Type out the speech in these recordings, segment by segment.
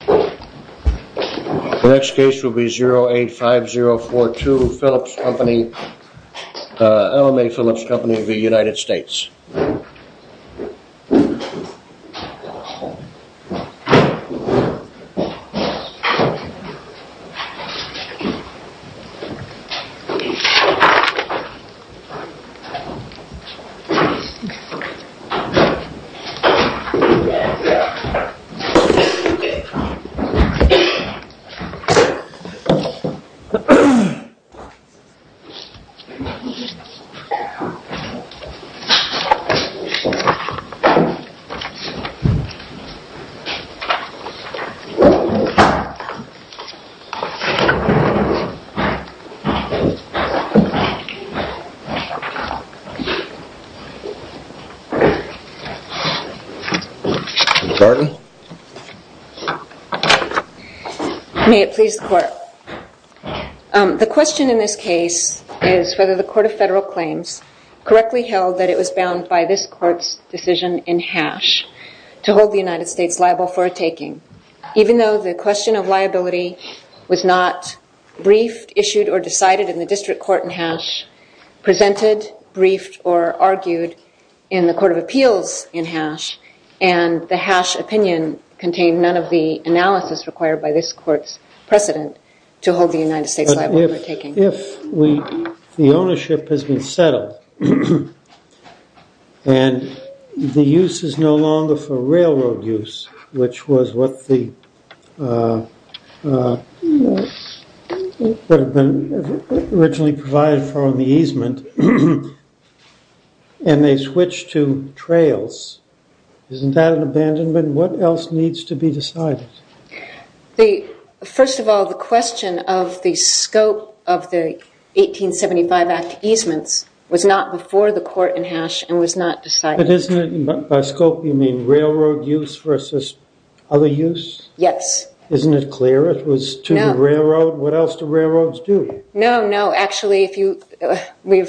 The next case will be 085042 Phillips Company LMA Phillips Company of the United States. Pardon? May it please the court. The question in this case is whether the court of federal claims correctly held that it was bound by this court's decision in hash to hold the United States liable for a taking. Even though the question of liability was not briefed, issued, or decided in the district court in hash, presented, briefed, or argued in the court of appeals in hash, and the hash opinion contained none of the analysis required by this court's precedent to hold the United States liable for a taking. If the ownership has been settled, and the use is no longer for railroad use, which was what the, what had been originally provided for on the easement, and they switch to trails, isn't that an abandonment? What else needs to be decided? First of all, the question of the scope of the 1875 act easements was not before the court in hash and was not decided. By scope you mean railroad use versus other use? Yes. Isn't it clear it was to the railroad? No. What else do railroads do? No, no. Actually, we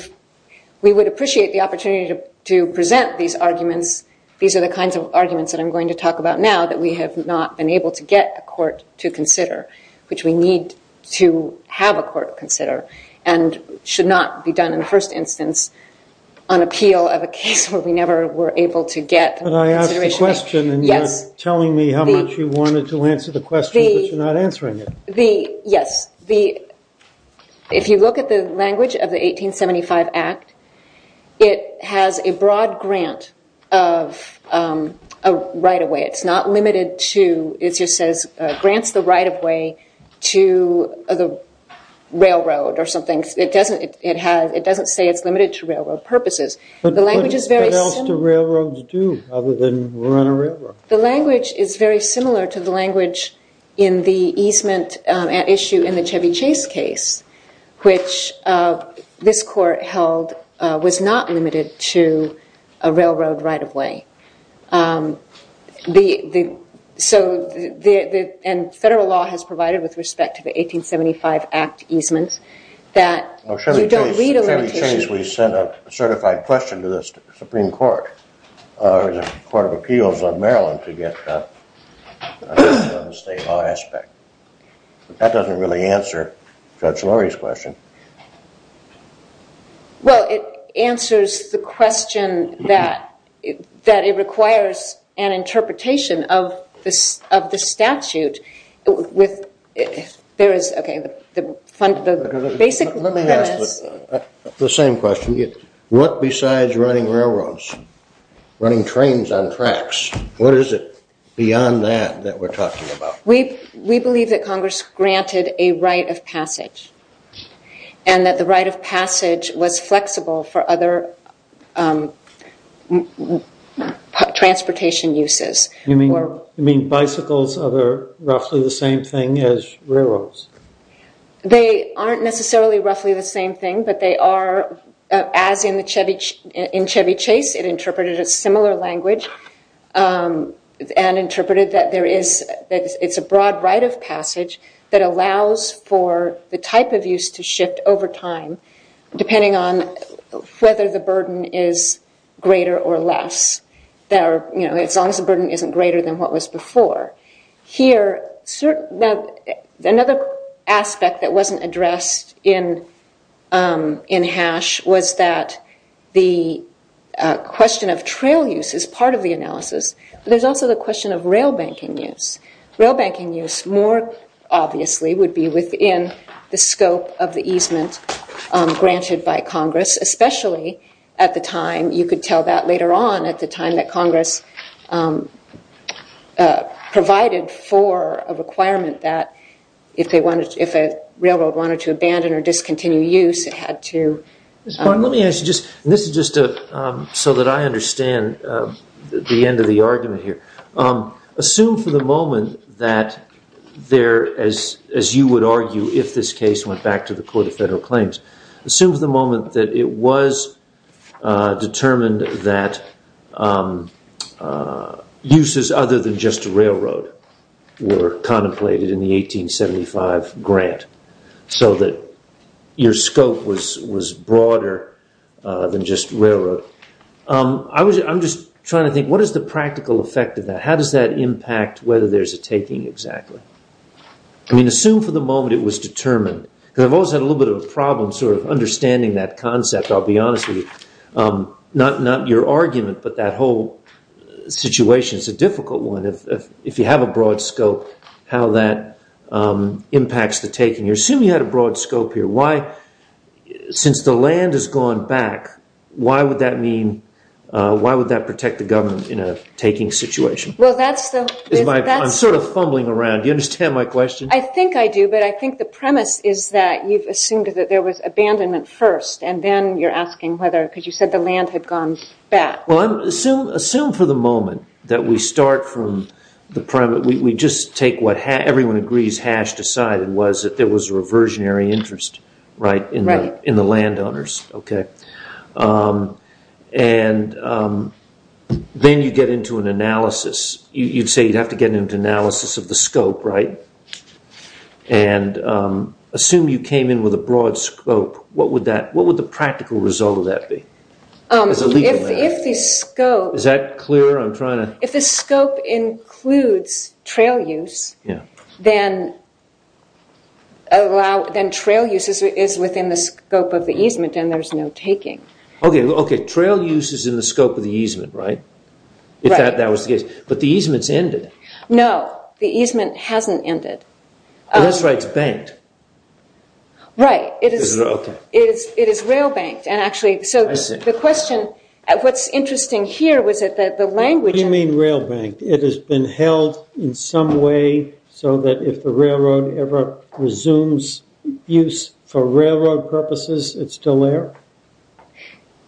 would appreciate the opportunity to present these arguments. These are the kinds of arguments that I'm going to talk about now that we have not been able to get a court to consider, which we need to have a court consider, and should not be done in the first instance on appeal of a case where we never were able to get consideration. But I asked the question, and you're telling me how much you wanted to answer the question, but you're not answering it. Yes. If you look at the language of the 1875 act, it has a broad grant of right of way. It's not limited to, it just says grants the right of way to the railroad or something. It doesn't say it's limited to railroad purposes. What else do railroads do other than run a railroad? The language is very similar to the language in the easement issue in the Chevy Chase case, which this court held was not limited to a railroad right of way. And federal law has provided with respect to the 1875 act easements that you don't read a limitation. Chevy Chase, we sent a certified question to the Supreme Court, or the Court of Appeals of Maryland to get a statement on the state law aspect. That doesn't really answer Judge Lurie's question. Well, it answers the question that it requires an interpretation of the statute. Let me ask the same question. What besides running railroads, running trains on tracks, what is it beyond that that we're talking about? We believe that Congress granted a right of passage. And that the right of passage was flexible for other transportation uses. You mean bicycles are roughly the same thing as railroads? They aren't necessarily roughly the same thing, but they are, as in the Chevy Chase, it interpreted a similar language. And interpreted that it's a broad right of passage that allows for the type of use to shift over time, depending on whether the burden is greater or less. As long as the burden isn't greater than what was before. Here, another aspect that wasn't addressed in Hash was that the question of trail use is part of the analysis. There's also the question of rail banking use. Rail banking use more obviously would be within the scope of the easement granted by Congress, especially at the time, you could tell that later on, at the time that Congress provided for a requirement that if a railroad wanted to abandon or discontinue use, it had to. Let me ask you, this is just so that I understand the end of the argument here. Assume for the moment that there, as you would argue if this case went back to the Court of Federal Claims, assume for the moment that it was determined that uses other than just railroad were contemplated in the 1875 grant, so that your scope was broader than just railroad. I'm just trying to think, what is the practical effect of that? How does that impact whether there's a taking exactly? Assume for the moment it was determined. I've always had a little bit of a problem understanding that concept, I'll be honest with you. Not your argument, but that whole situation is a difficult one. If you have a broad scope, how that impacts the taking. Assume you had a broad scope here. Since the land has gone back, why would that mean, why would that protect the government in a taking situation? I'm sort of fumbling around, do you understand my question? I think I do, but I think the premise is that you've assumed that there was abandonment first, and then you're asking whether, because you said the land had gone back. Assume for the moment that we start from the premise, we just take what everyone agrees Hatch decided was that there was a reversionary interest in the land owners. Then you get into an analysis, you'd say you'd have to get into an analysis of the scope, right? Assume you came in with a broad scope, what would the practical result of that be? If the scope includes trail use, then trail use is within the scope of the easement and there's no taking. Okay, trail use is in the scope of the easement, right? Right. If that was the case. But the easement's ended. No, the easement hasn't ended. That's right, it's banked. Right, it is rail banked, and actually, so the question, what's interesting here was that the language... What do you mean rail banked? It has been held in some way so that if the railroad ever resumes use for railroad purposes, it's still there?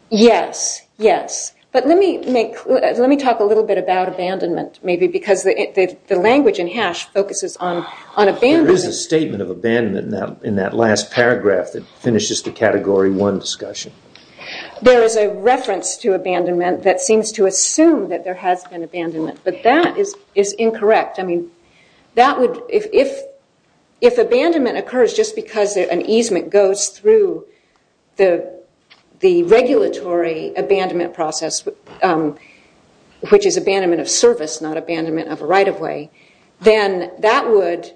Yes, yes. But let me talk a little bit about abandonment, maybe, because the language in Hatch focuses on abandonment. There is a statement of abandonment in that last paragraph that finishes the category one discussion. There is a reference to abandonment that seems to assume that there has been abandonment, but that is incorrect. I mean, if abandonment occurs just because an easement goes through the regulatory abandonment process, which is abandonment of service, not abandonment of a right-of-way, then that would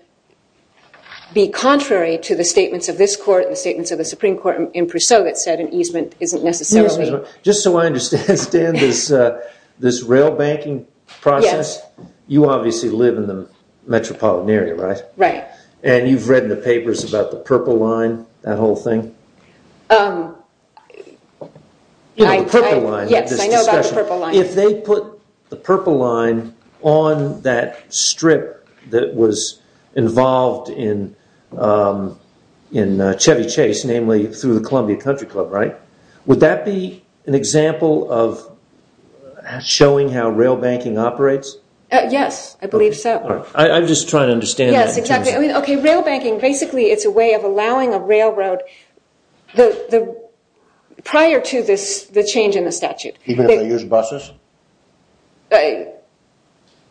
be contrary to the statements of this court and the statements of the Supreme Court in Prusso that said an easement isn't necessarily... Just so I understand, Stan, this rail banking process, you obviously live in the metropolitan area, right? Right. And you've read in the papers about the Purple Line, that whole thing? Yes, I know about the Purple Line. If they put the Purple Line on that strip that was involved in Chevy Chase, namely through the Columbia Country Club, right? Would that be an example of showing how rail banking operates? Yes, I believe so. I'm just trying to understand that. Rail banking, basically, it's a way of allowing a railroad prior to the change in the statute. Even if they use buses?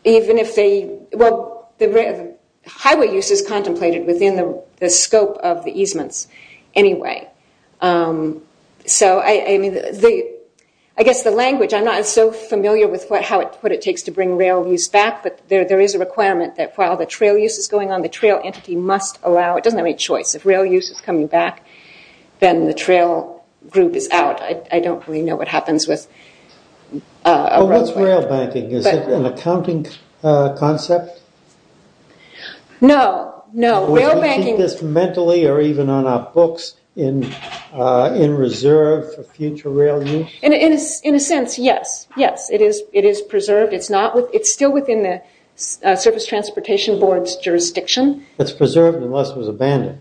Even if they... Well, highway use is contemplated within the scope of the easements anyway. So, I mean, I guess the language, I'm not so familiar with what it takes to bring rail use back, but there is a requirement that while the trail use is going on, the trail entity must allow... It doesn't have any choice. If rail use is coming back, then the trail group is out. I don't really know what happens with... What's rail banking? Is it an accounting concept? No, no. Would you keep this mentally or even on our books in reserve for future rail use? In a sense, yes. Yes, it is preserved. It's still within the Surface Transportation Board's jurisdiction. It's preserved unless it was abandoned.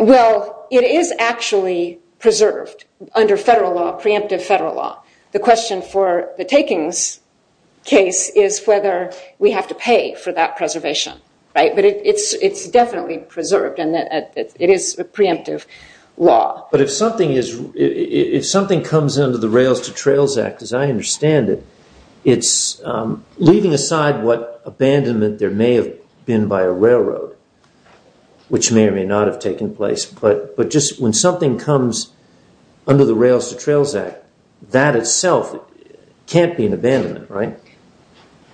Well, it is actually preserved under federal law, preemptive federal law. The question for the takings case is whether we have to pay for that preservation. But it's definitely preserved and it is a preemptive law. But if something comes under the Rails to Trails Act, as I understand it, it's leaving aside what abandonment there may have been by a railroad, which may or may not have taken place, but just when something comes under the Rails to Trails Act, that itself can't be an abandonment, right?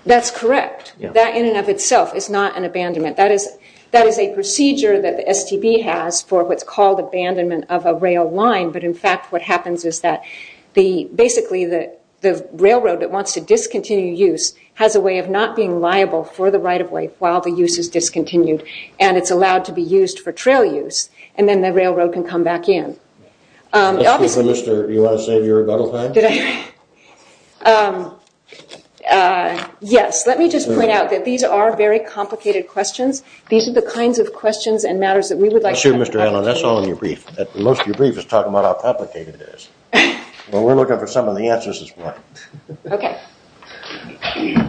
That's correct. That in and of itself is not an abandonment. That is a procedure that the STB has for what's called abandonment of a rail line, but, in fact, what happens is that basically the railroad that wants to discontinue use has a way of not being liable for the right-of-way while the use is discontinued and it's allowed to be used for trail use and then the railroad can come back in. Ms. Cooper, do you want to save your rebuttal time? Yes. Let me just point out that these are very complicated questions. That's true, Mr. Allen. That's all in your brief. Most of your brief is talking about how complicated it is. Well, we're looking for some of the answers as well. Okay. Thank you.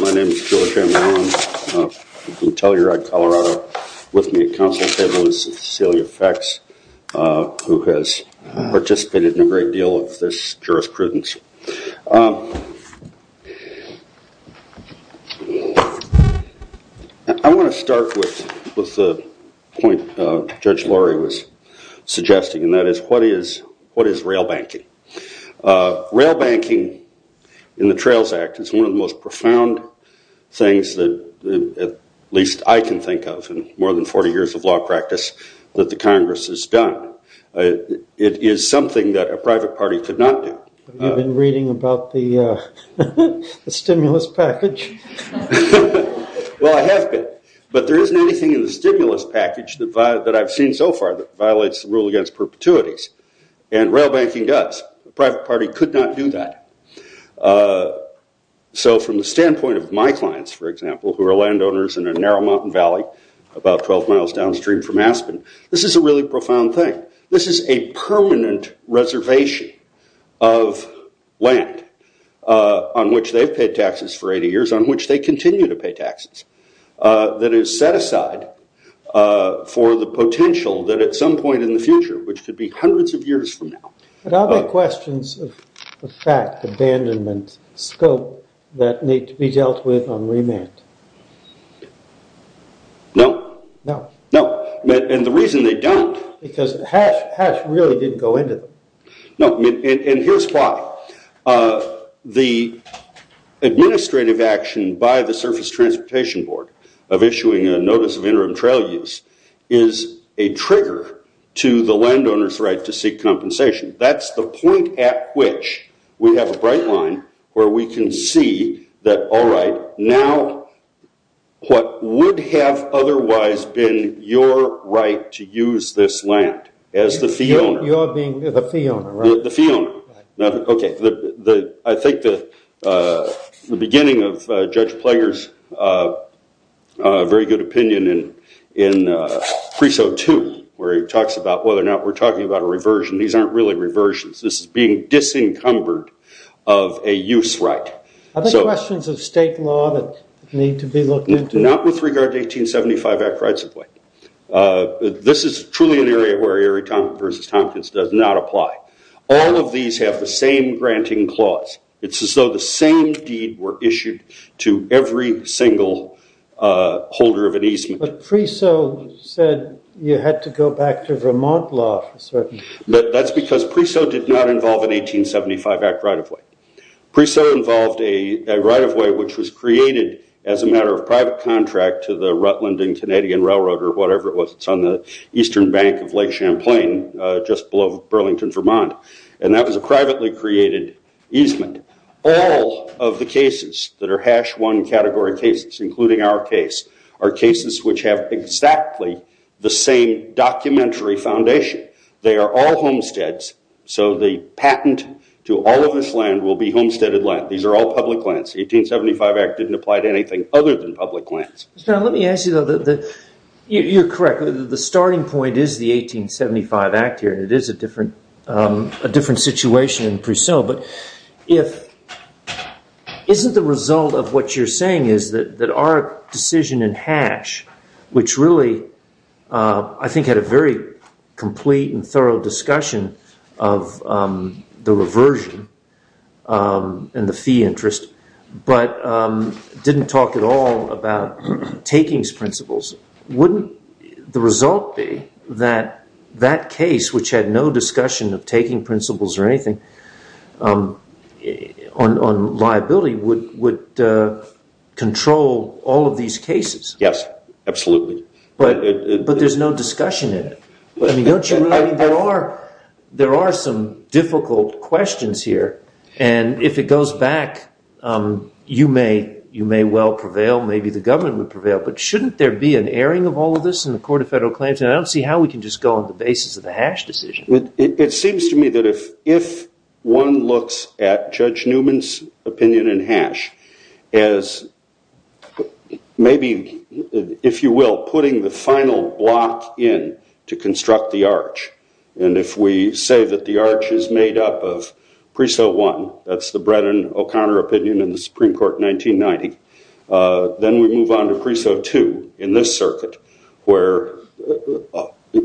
My name is Joe J. Allen. I'm from Telluride, Colorado. With me at council table is Cecilia Fex, who has participated in a great deal of this jurisprudence. I want to start with the point Judge Laurie was suggesting, and that is what is rail banking? Rail banking in the Trails Act is one of the most profound things that at least I can think of in more than 40 years of law practice that the Congress has done. It is something that a private party could not do. Have you been reading about the stimulus package? Well, I have been, but there isn't anything in the stimulus package that I've seen so far that violates the rule against perpetuities, and rail banking does. The private party could not do that. So from the standpoint of my clients, for example, who are landowners in a narrow mountain valley about 12 miles downstream from Aspen, this is a really profound thing. This is a permanent reservation of land on which they've paid taxes for 80 years, on which they continue to pay taxes, that is set aside for the potential that at some point in the future, which could be hundreds of years from now. Are there questions of fact, abandonment, scope that need to be dealt with on remand? No. No. And the reason they don't... Because hash really didn't go into them. No, and here's why. The administrative action by the Surface Transportation Board of issuing a notice of interim trail use is a trigger to the landowner's right to seek compensation. That's the point at which we have a bright line where we can see that, all right, now what would have otherwise been your right to use this land as the fee owner? You're being the fee owner, right? The fee owner. Okay. I think the beginning of Judge Plager's very good opinion in Preso 2, where he talks about whether or not we're talking about a reversion. These aren't really reversions. This is being disencumbered of a use right. Are there questions of state law that need to be looked into? Not with regard to 1875 Act rights of way. This is truly an area where Erie versus Tompkins does not apply. All of these have the same granting clause. It's as though the same deed were issued to every single holder of an easement. But Preso said you had to go back to Vermont law for certain. That's because Preso did not involve an 1875 Act right of way. Preso involved a right of way which was created as a matter of private contract to the Rutland and Canadian Railroad or whatever it was. It's on the eastern bank of Lake Champlain just below Burlington, Vermont. That was a privately created easement. All of the cases that are hash one category cases, including our case, are cases which have exactly the same documentary foundation. They are all homesteads. The patent to all of this land will be homesteaded land. These are all public lands. The 1875 Act didn't apply to anything other than public lands. Let me ask you, though, you're correct. The starting point is the 1875 Act here. It is a different situation in Preso. But isn't the result of what you're saying is that our decision in hash, which really I think had a very complete and thorough discussion of the reversion and the fee interest but didn't talk at all about takings principles, wouldn't the result be that that case, which had no discussion of taking principles or anything on liability, would control all of these cases? Yes, absolutely. But there's no discussion in it. There are some difficult questions here. And if it goes back, you may well prevail. Maybe the government would prevail. But shouldn't there be an airing of all of this in the Court of Federal Claims? I don't see how we can just go on the basis of the hash decision. It seems to me that if one looks at Judge Newman's opinion in hash as maybe, if you will, putting the final block in to construct the arch, and if we say that the arch is made up of Preso 1, that's the Brennan-O'Connor opinion in the Supreme Court in 1990, then we move on to Preso 2 in this circuit, where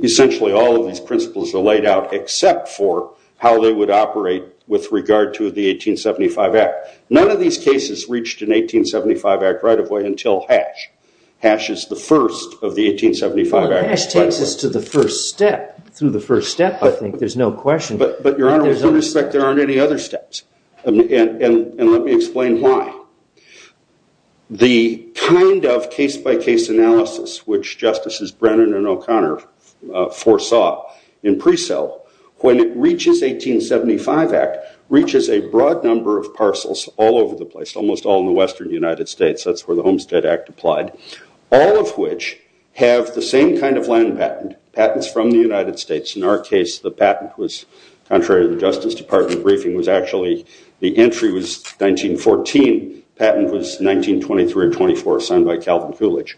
essentially all of these principles are laid out except for how they would operate with regard to the 1875 Act. None of these cases reached an 1875 Act right of way until hash. Hash is the first of the 1875 Act. Well, hash takes us to the first step. Through the first step, I think, there's no question. But, Your Honor, with all due respect, there aren't any other steps. And let me explain why. The kind of case-by-case analysis which Justices Brennan and O'Connor foresaw in Preso, when it reaches 1875 Act, reaches a broad number of parcels all over the place, almost all in the western United States. That's where the Homestead Act applied. All of which have the same kind of land patent, patents from the United States. In our case, the patent was, contrary to the Justice Department briefing, was actually the entry was 1914. The patent was 1923 or 1924, signed by Calvin Coolidge.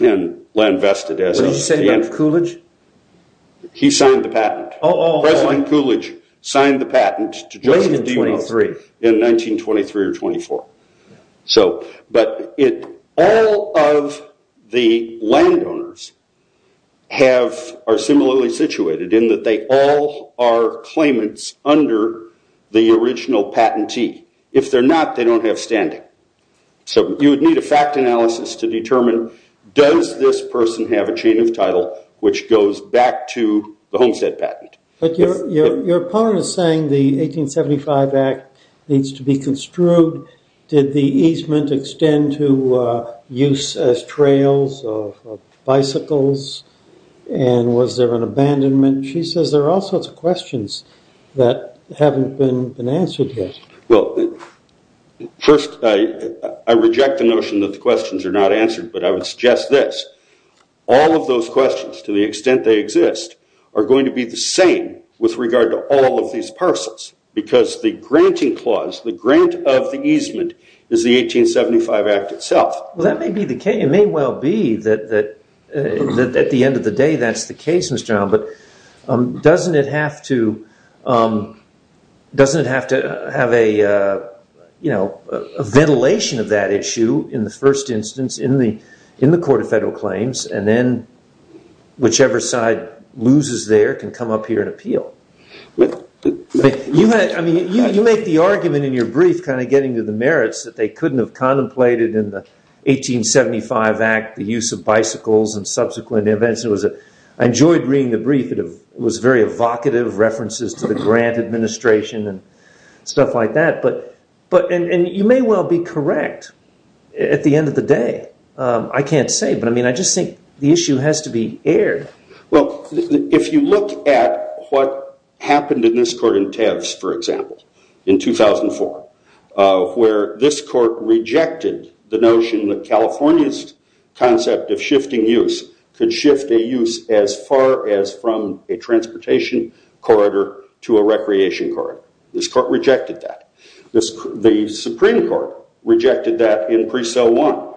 And land vested as of the end. What did he say about Coolidge? He signed the patent. Oh, oh, oh. President Coolidge signed the patent to Joseph DeMos. Late in 1923. In 1923 or 1924. But all of the landowners are similarly situated in that they all are claimants under the original patentee. If they're not, they don't have standing. So you would need a fact analysis to determine, does this person have a chain of title which goes back to the Homestead Patent? But your opponent is saying the 1875 Act needs to be construed. Did the easement extend to use as trails of bicycles? And was there an abandonment? She says there are all sorts of questions that haven't been answered yet. Well, first, I reject the notion that the questions are not answered, but I would suggest this. All of those questions, to the extent they exist, are going to be the same with regard to all of these parcels because the granting clause, the grant of the easement, is the 1875 Act itself. Well, that may be the case. It may well be that at the end of the day that's the case, Mr. Allen. But doesn't it have to have a ventilation of that issue in the first instance in the Court of Federal Claims? And then whichever side loses there can come up here and appeal. I mean, you make the argument in your brief kind of getting to the merits that they couldn't have contemplated in the 1875 Act the use of bicycles and subsequent events. I enjoyed reading the brief. It was very evocative, references to the grant administration and stuff like that. And you may well be correct at the end of the day. I can't say. But, I mean, I just think the issue has to be aired. Well, if you look at what happened in this court in Teves, for example, in 2004 where this court rejected the notion that California's concept of shifting use could shift a use as far as from a transportation corridor to a recreation corridor. This court rejected that. The Supreme Court rejected that in Presell 1,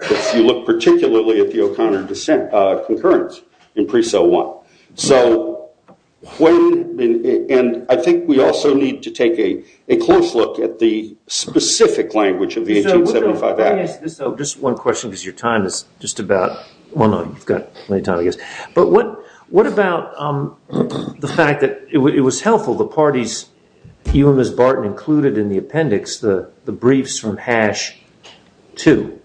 if you look particularly at the O'Connor concurrence in Presell 1. And I think we also need to take a close look at the specific language of the 1875 Act. Can I ask this, though, just one question because your time is just about – well, no, you've got plenty of time, I guess. But what about the fact that it was helpful, the parties, you and Ms. Barton included in the appendix, the briefs from Hash 2.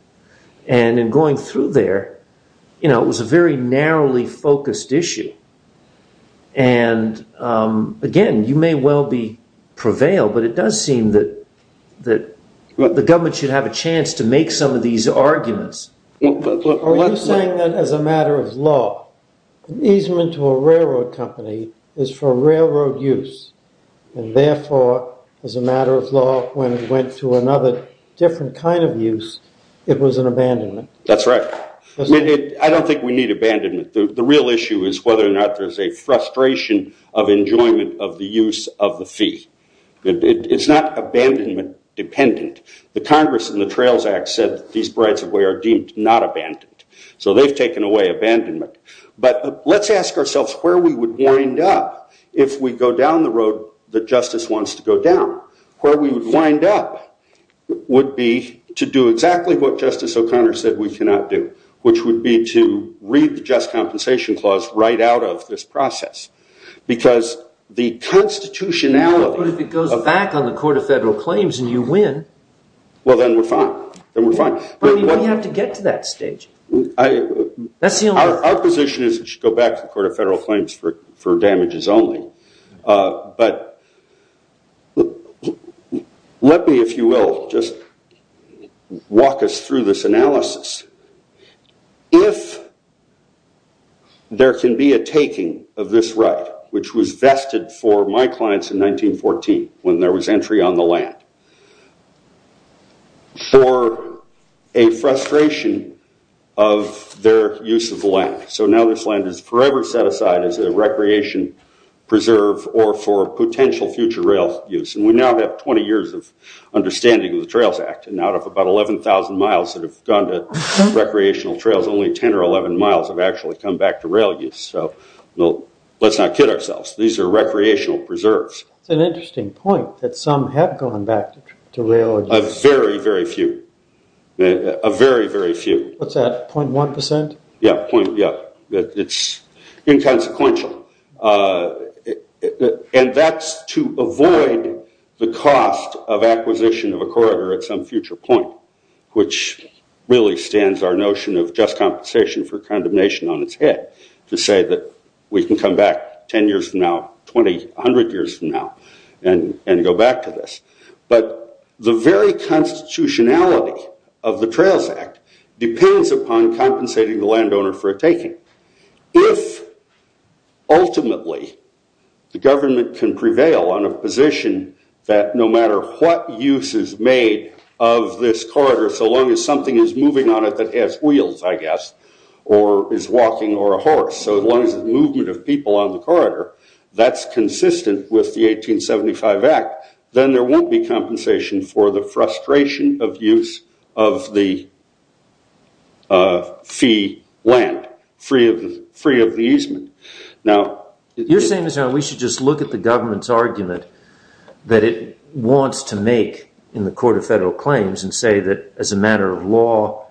And in going through there, you know, it was a very narrowly focused issue. And, again, you may well prevail, but it does seem that the government should have a chance to make some of these arguments. Are you saying that as a matter of law, an easement to a railroad company is for railroad use and, therefore, as a matter of law, when it went to another different kind of use, it was an abandonment? That's right. I don't think we need abandonment. The real issue is whether or not there's a frustration of enjoyment of the use of the fee. It's not abandonment dependent. The Congress in the Trails Act said these rights of way are deemed not abandoned. So they've taken away abandonment. But let's ask ourselves where we would wind up if we go down the road that justice wants to go down. Where we would wind up would be to do exactly what Justice O'Connor said we cannot do, which would be to read the Just Compensation Clause right out of this process. Because the constitutionality of – Well, then we're fine. Then we're fine. But we have to get to that stage. Our position is we should go back to the Court of Federal Claims for damages only. But let me, if you will, just walk us through this analysis. If there can be a taking of this right, which was vested for my clients in 1914 when there was entry on the land, for a frustration of their use of the land. So now this land is forever set aside as a recreation preserve or for potential future rail use. And we now have 20 years of understanding of the Trails Act. And out of about 11,000 miles that have gone to recreational trails, only 10 or 11 miles have actually come back to rail use. So let's not kid ourselves. These are recreational preserves. It's an interesting point that some have gone back to rail use. A very, very few. A very, very few. What's that, 0.1%? Yeah, it's inconsequential. And that's to avoid the cost of acquisition of a corridor at some future point, which really stands our notion of just compensation for condemnation on its head to say that we can come back 10 years from now, 20, 100 years from now, and go back to this. But the very constitutionality of the Trails Act depends upon compensating the landowner for a taking. If ultimately the government can prevail on a position that no matter what use is made of this corridor, so long as something is moving on it that has wheels, I guess, or is walking, or a horse, so long as the movement of people on the corridor, that's consistent with the 1875 Act, then there won't be compensation for the frustration of use of the fee land, free of the easement. You're saying we should just look at the government's argument that it wants to make in the Court of Federal Claims and say that as a matter of law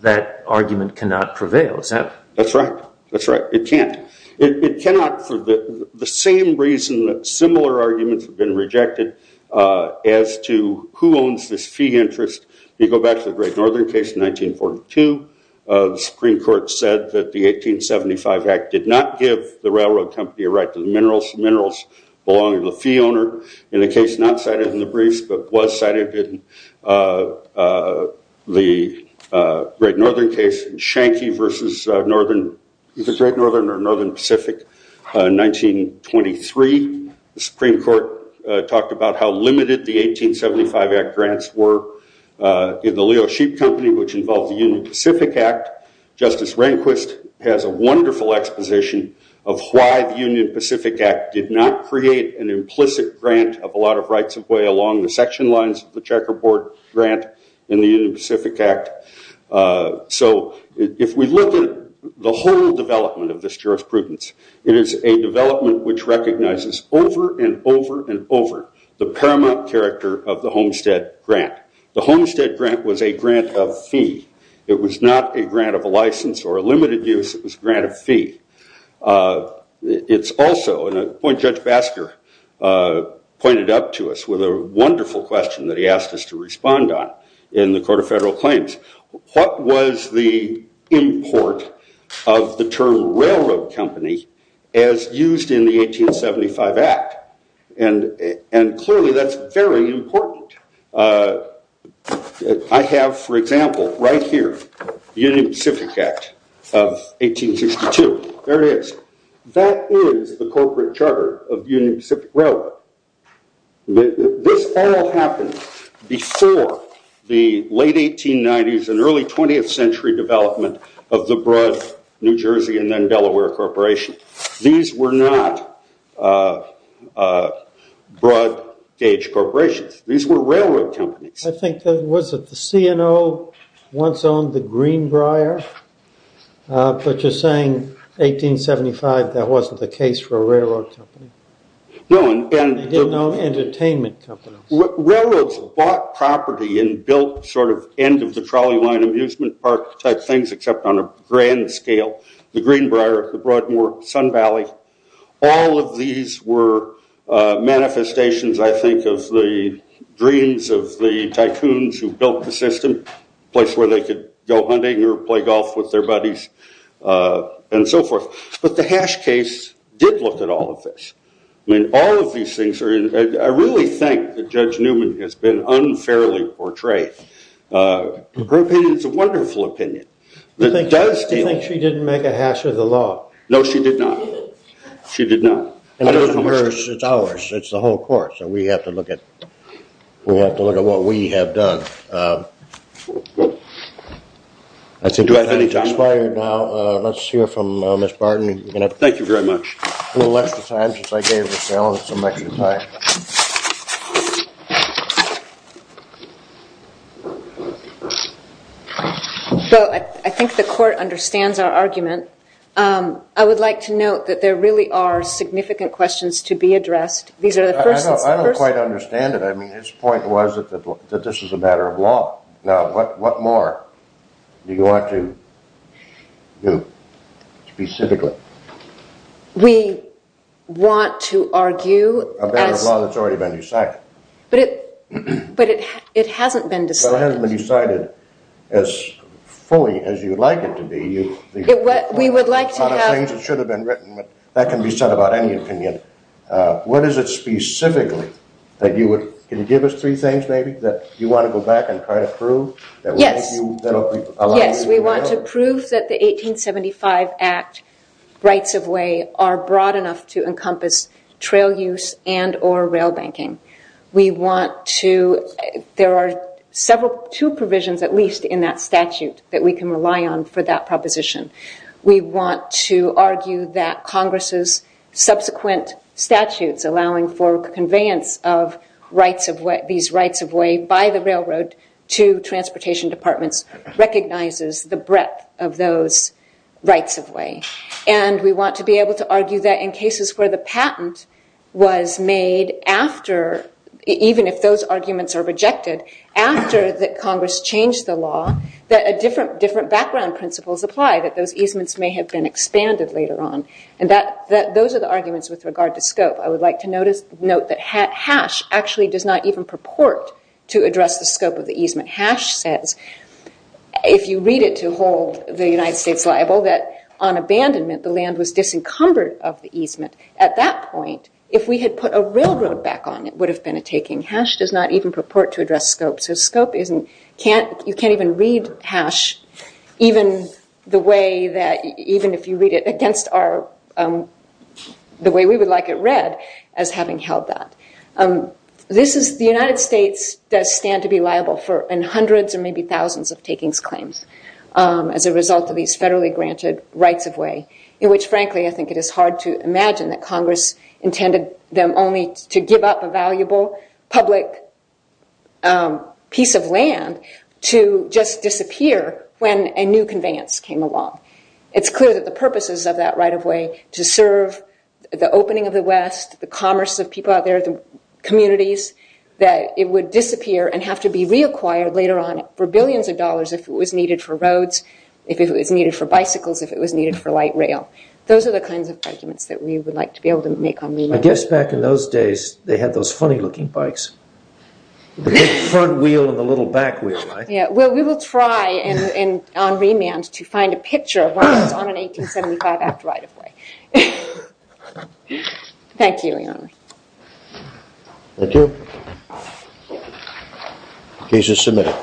that argument cannot prevail. That's right. That's right. It can't. It cannot for the same reason that similar arguments have been rejected as to who owns this fee interest. You go back to the Great Northern case in 1942. The Supreme Court said that the 1875 Act did not give the railroad company a right to the minerals. The minerals belonged to the fee owner in the case not cited in the briefs but was cited in the Great Northern case in Shanky versus the Great Northern or Northern Pacific in 1923. The Supreme Court talked about how limited the 1875 Act grants were in the Leo Sheep Company, which involved the Union Pacific Act. Justice Rehnquist has a wonderful exposition of why the Union Pacific Act did not create an implicit grant of a lot of rights of way along the section lines of the checkerboard grant in the Union Pacific Act. So if we look at the whole development of this jurisprudence, it is a development which recognizes over and over and over the paramount character of the Homestead Grant. The Homestead Grant was a grant of fee. It was not a grant of a license or a limited use. It was a grant of fee. It's also, and Judge Basker pointed up to us with a wonderful question that he asked us to respond on in the Court of Federal Claims. What was the import of the term railroad company as used in the 1875 Act? And clearly that's very important. I have, for example, right here, the Union Pacific Act of 1862. There it is. That is the corporate charter of Union Pacific Railroad. This all happened before the late 1890s and early 20th century development of the broad New Jersey and then Delaware Corporation. These were not broad gauge corporations. These were railroad companies. I think, was it the C&O once owned the Greenbrier? But you're saying 1875, that wasn't the case for a railroad company? No. They didn't own entertainment companies. Railroads bought property and built sort of end of the trolley line amusement park type things except on a grand scale. The Greenbrier, the Broadmoor, Sun Valley, all of these were manifestations, I think, of the dreams of the tycoons who built the system, a place where they could go hunting or play golf with their buddies and so forth. But the Hash case did look at all of this. I mean, all of these things are in, I really think that Judge Newman has been unfairly portrayed. Her opinion is a wonderful opinion. You think she didn't make a hash of the law? No, she did not. She did not. It's ours. It's the whole court. So we have to look at what we have done. Do I have any time? Let's hear from Ms. Barton. Thank you very much. A little extra time, just like David was telling us, some extra time. So I think the court understands our argument. I would like to note that there really are significant questions to be addressed. These are the first... I don't quite understand it. I mean, his point was that this is a matter of law. Now, what more do you want to do specifically? We want to argue... A matter of law that's already been decided. But it hasn't been decided. It hasn't been decided as fully as you'd like it to be. We would like to have... A lot of things that should have been written, but that can be said about any opinion. What is it specifically that you would... Can you give us three things, maybe, that you want to go back and try to prove? Yes. Yes, we want to prove that the 1875 Act rights of way are broad enough to encompass trail use and or rail banking. We want to... There are two provisions, at least in that statute, that we can rely on for that proposition. We want to argue that Congress's subsequent statutes allowing for conveyance of these rights of way by the railroad to transportation departments recognizes the breadth of those rights of way. And we want to be able to argue that in cases where the patent was made after... Even if those arguments are rejected, after Congress changed the law, that different background principles apply, that those easements may have been expanded later on. And those are the arguments with regard to scope. I would like to note that Hatch actually does not even purport to address the scope of the easement. Hatch says, if you read it to hold the United States liable, that on abandonment, the land was disencumbered of the easement. At that point, if we had put a railroad back on, it would have been a taking. Hatch does not even purport to address scope. So scope, you can't even read Hatch, even if you read it against the way we would like it read, as having held that. The United States does stand to be liable for hundreds or maybe thousands of takings claims as a result of these federally granted rights of way, in which, frankly, I think it is hard to imagine that Congress intended them only to give up a valuable public piece of land to just disappear when a new conveyance came along. It's clear that the purposes of that right of way to serve the opening of the West, the commerce of people out there, the communities, that it would disappear and have to be reacquired later on for billions of dollars if it was needed for roads, if it was needed for bicycles, if it was needed for light rail. Those are the kinds of arguments that we would like to be able to make on remand. I guess back in those days, they had those funny looking bikes. The big front wheel and the little back wheel, right? Yeah, well, we will try on remand to find a picture of one that was on an 1875 Act right of way. Thank you, Your Honor. Thank you. The case is submitted.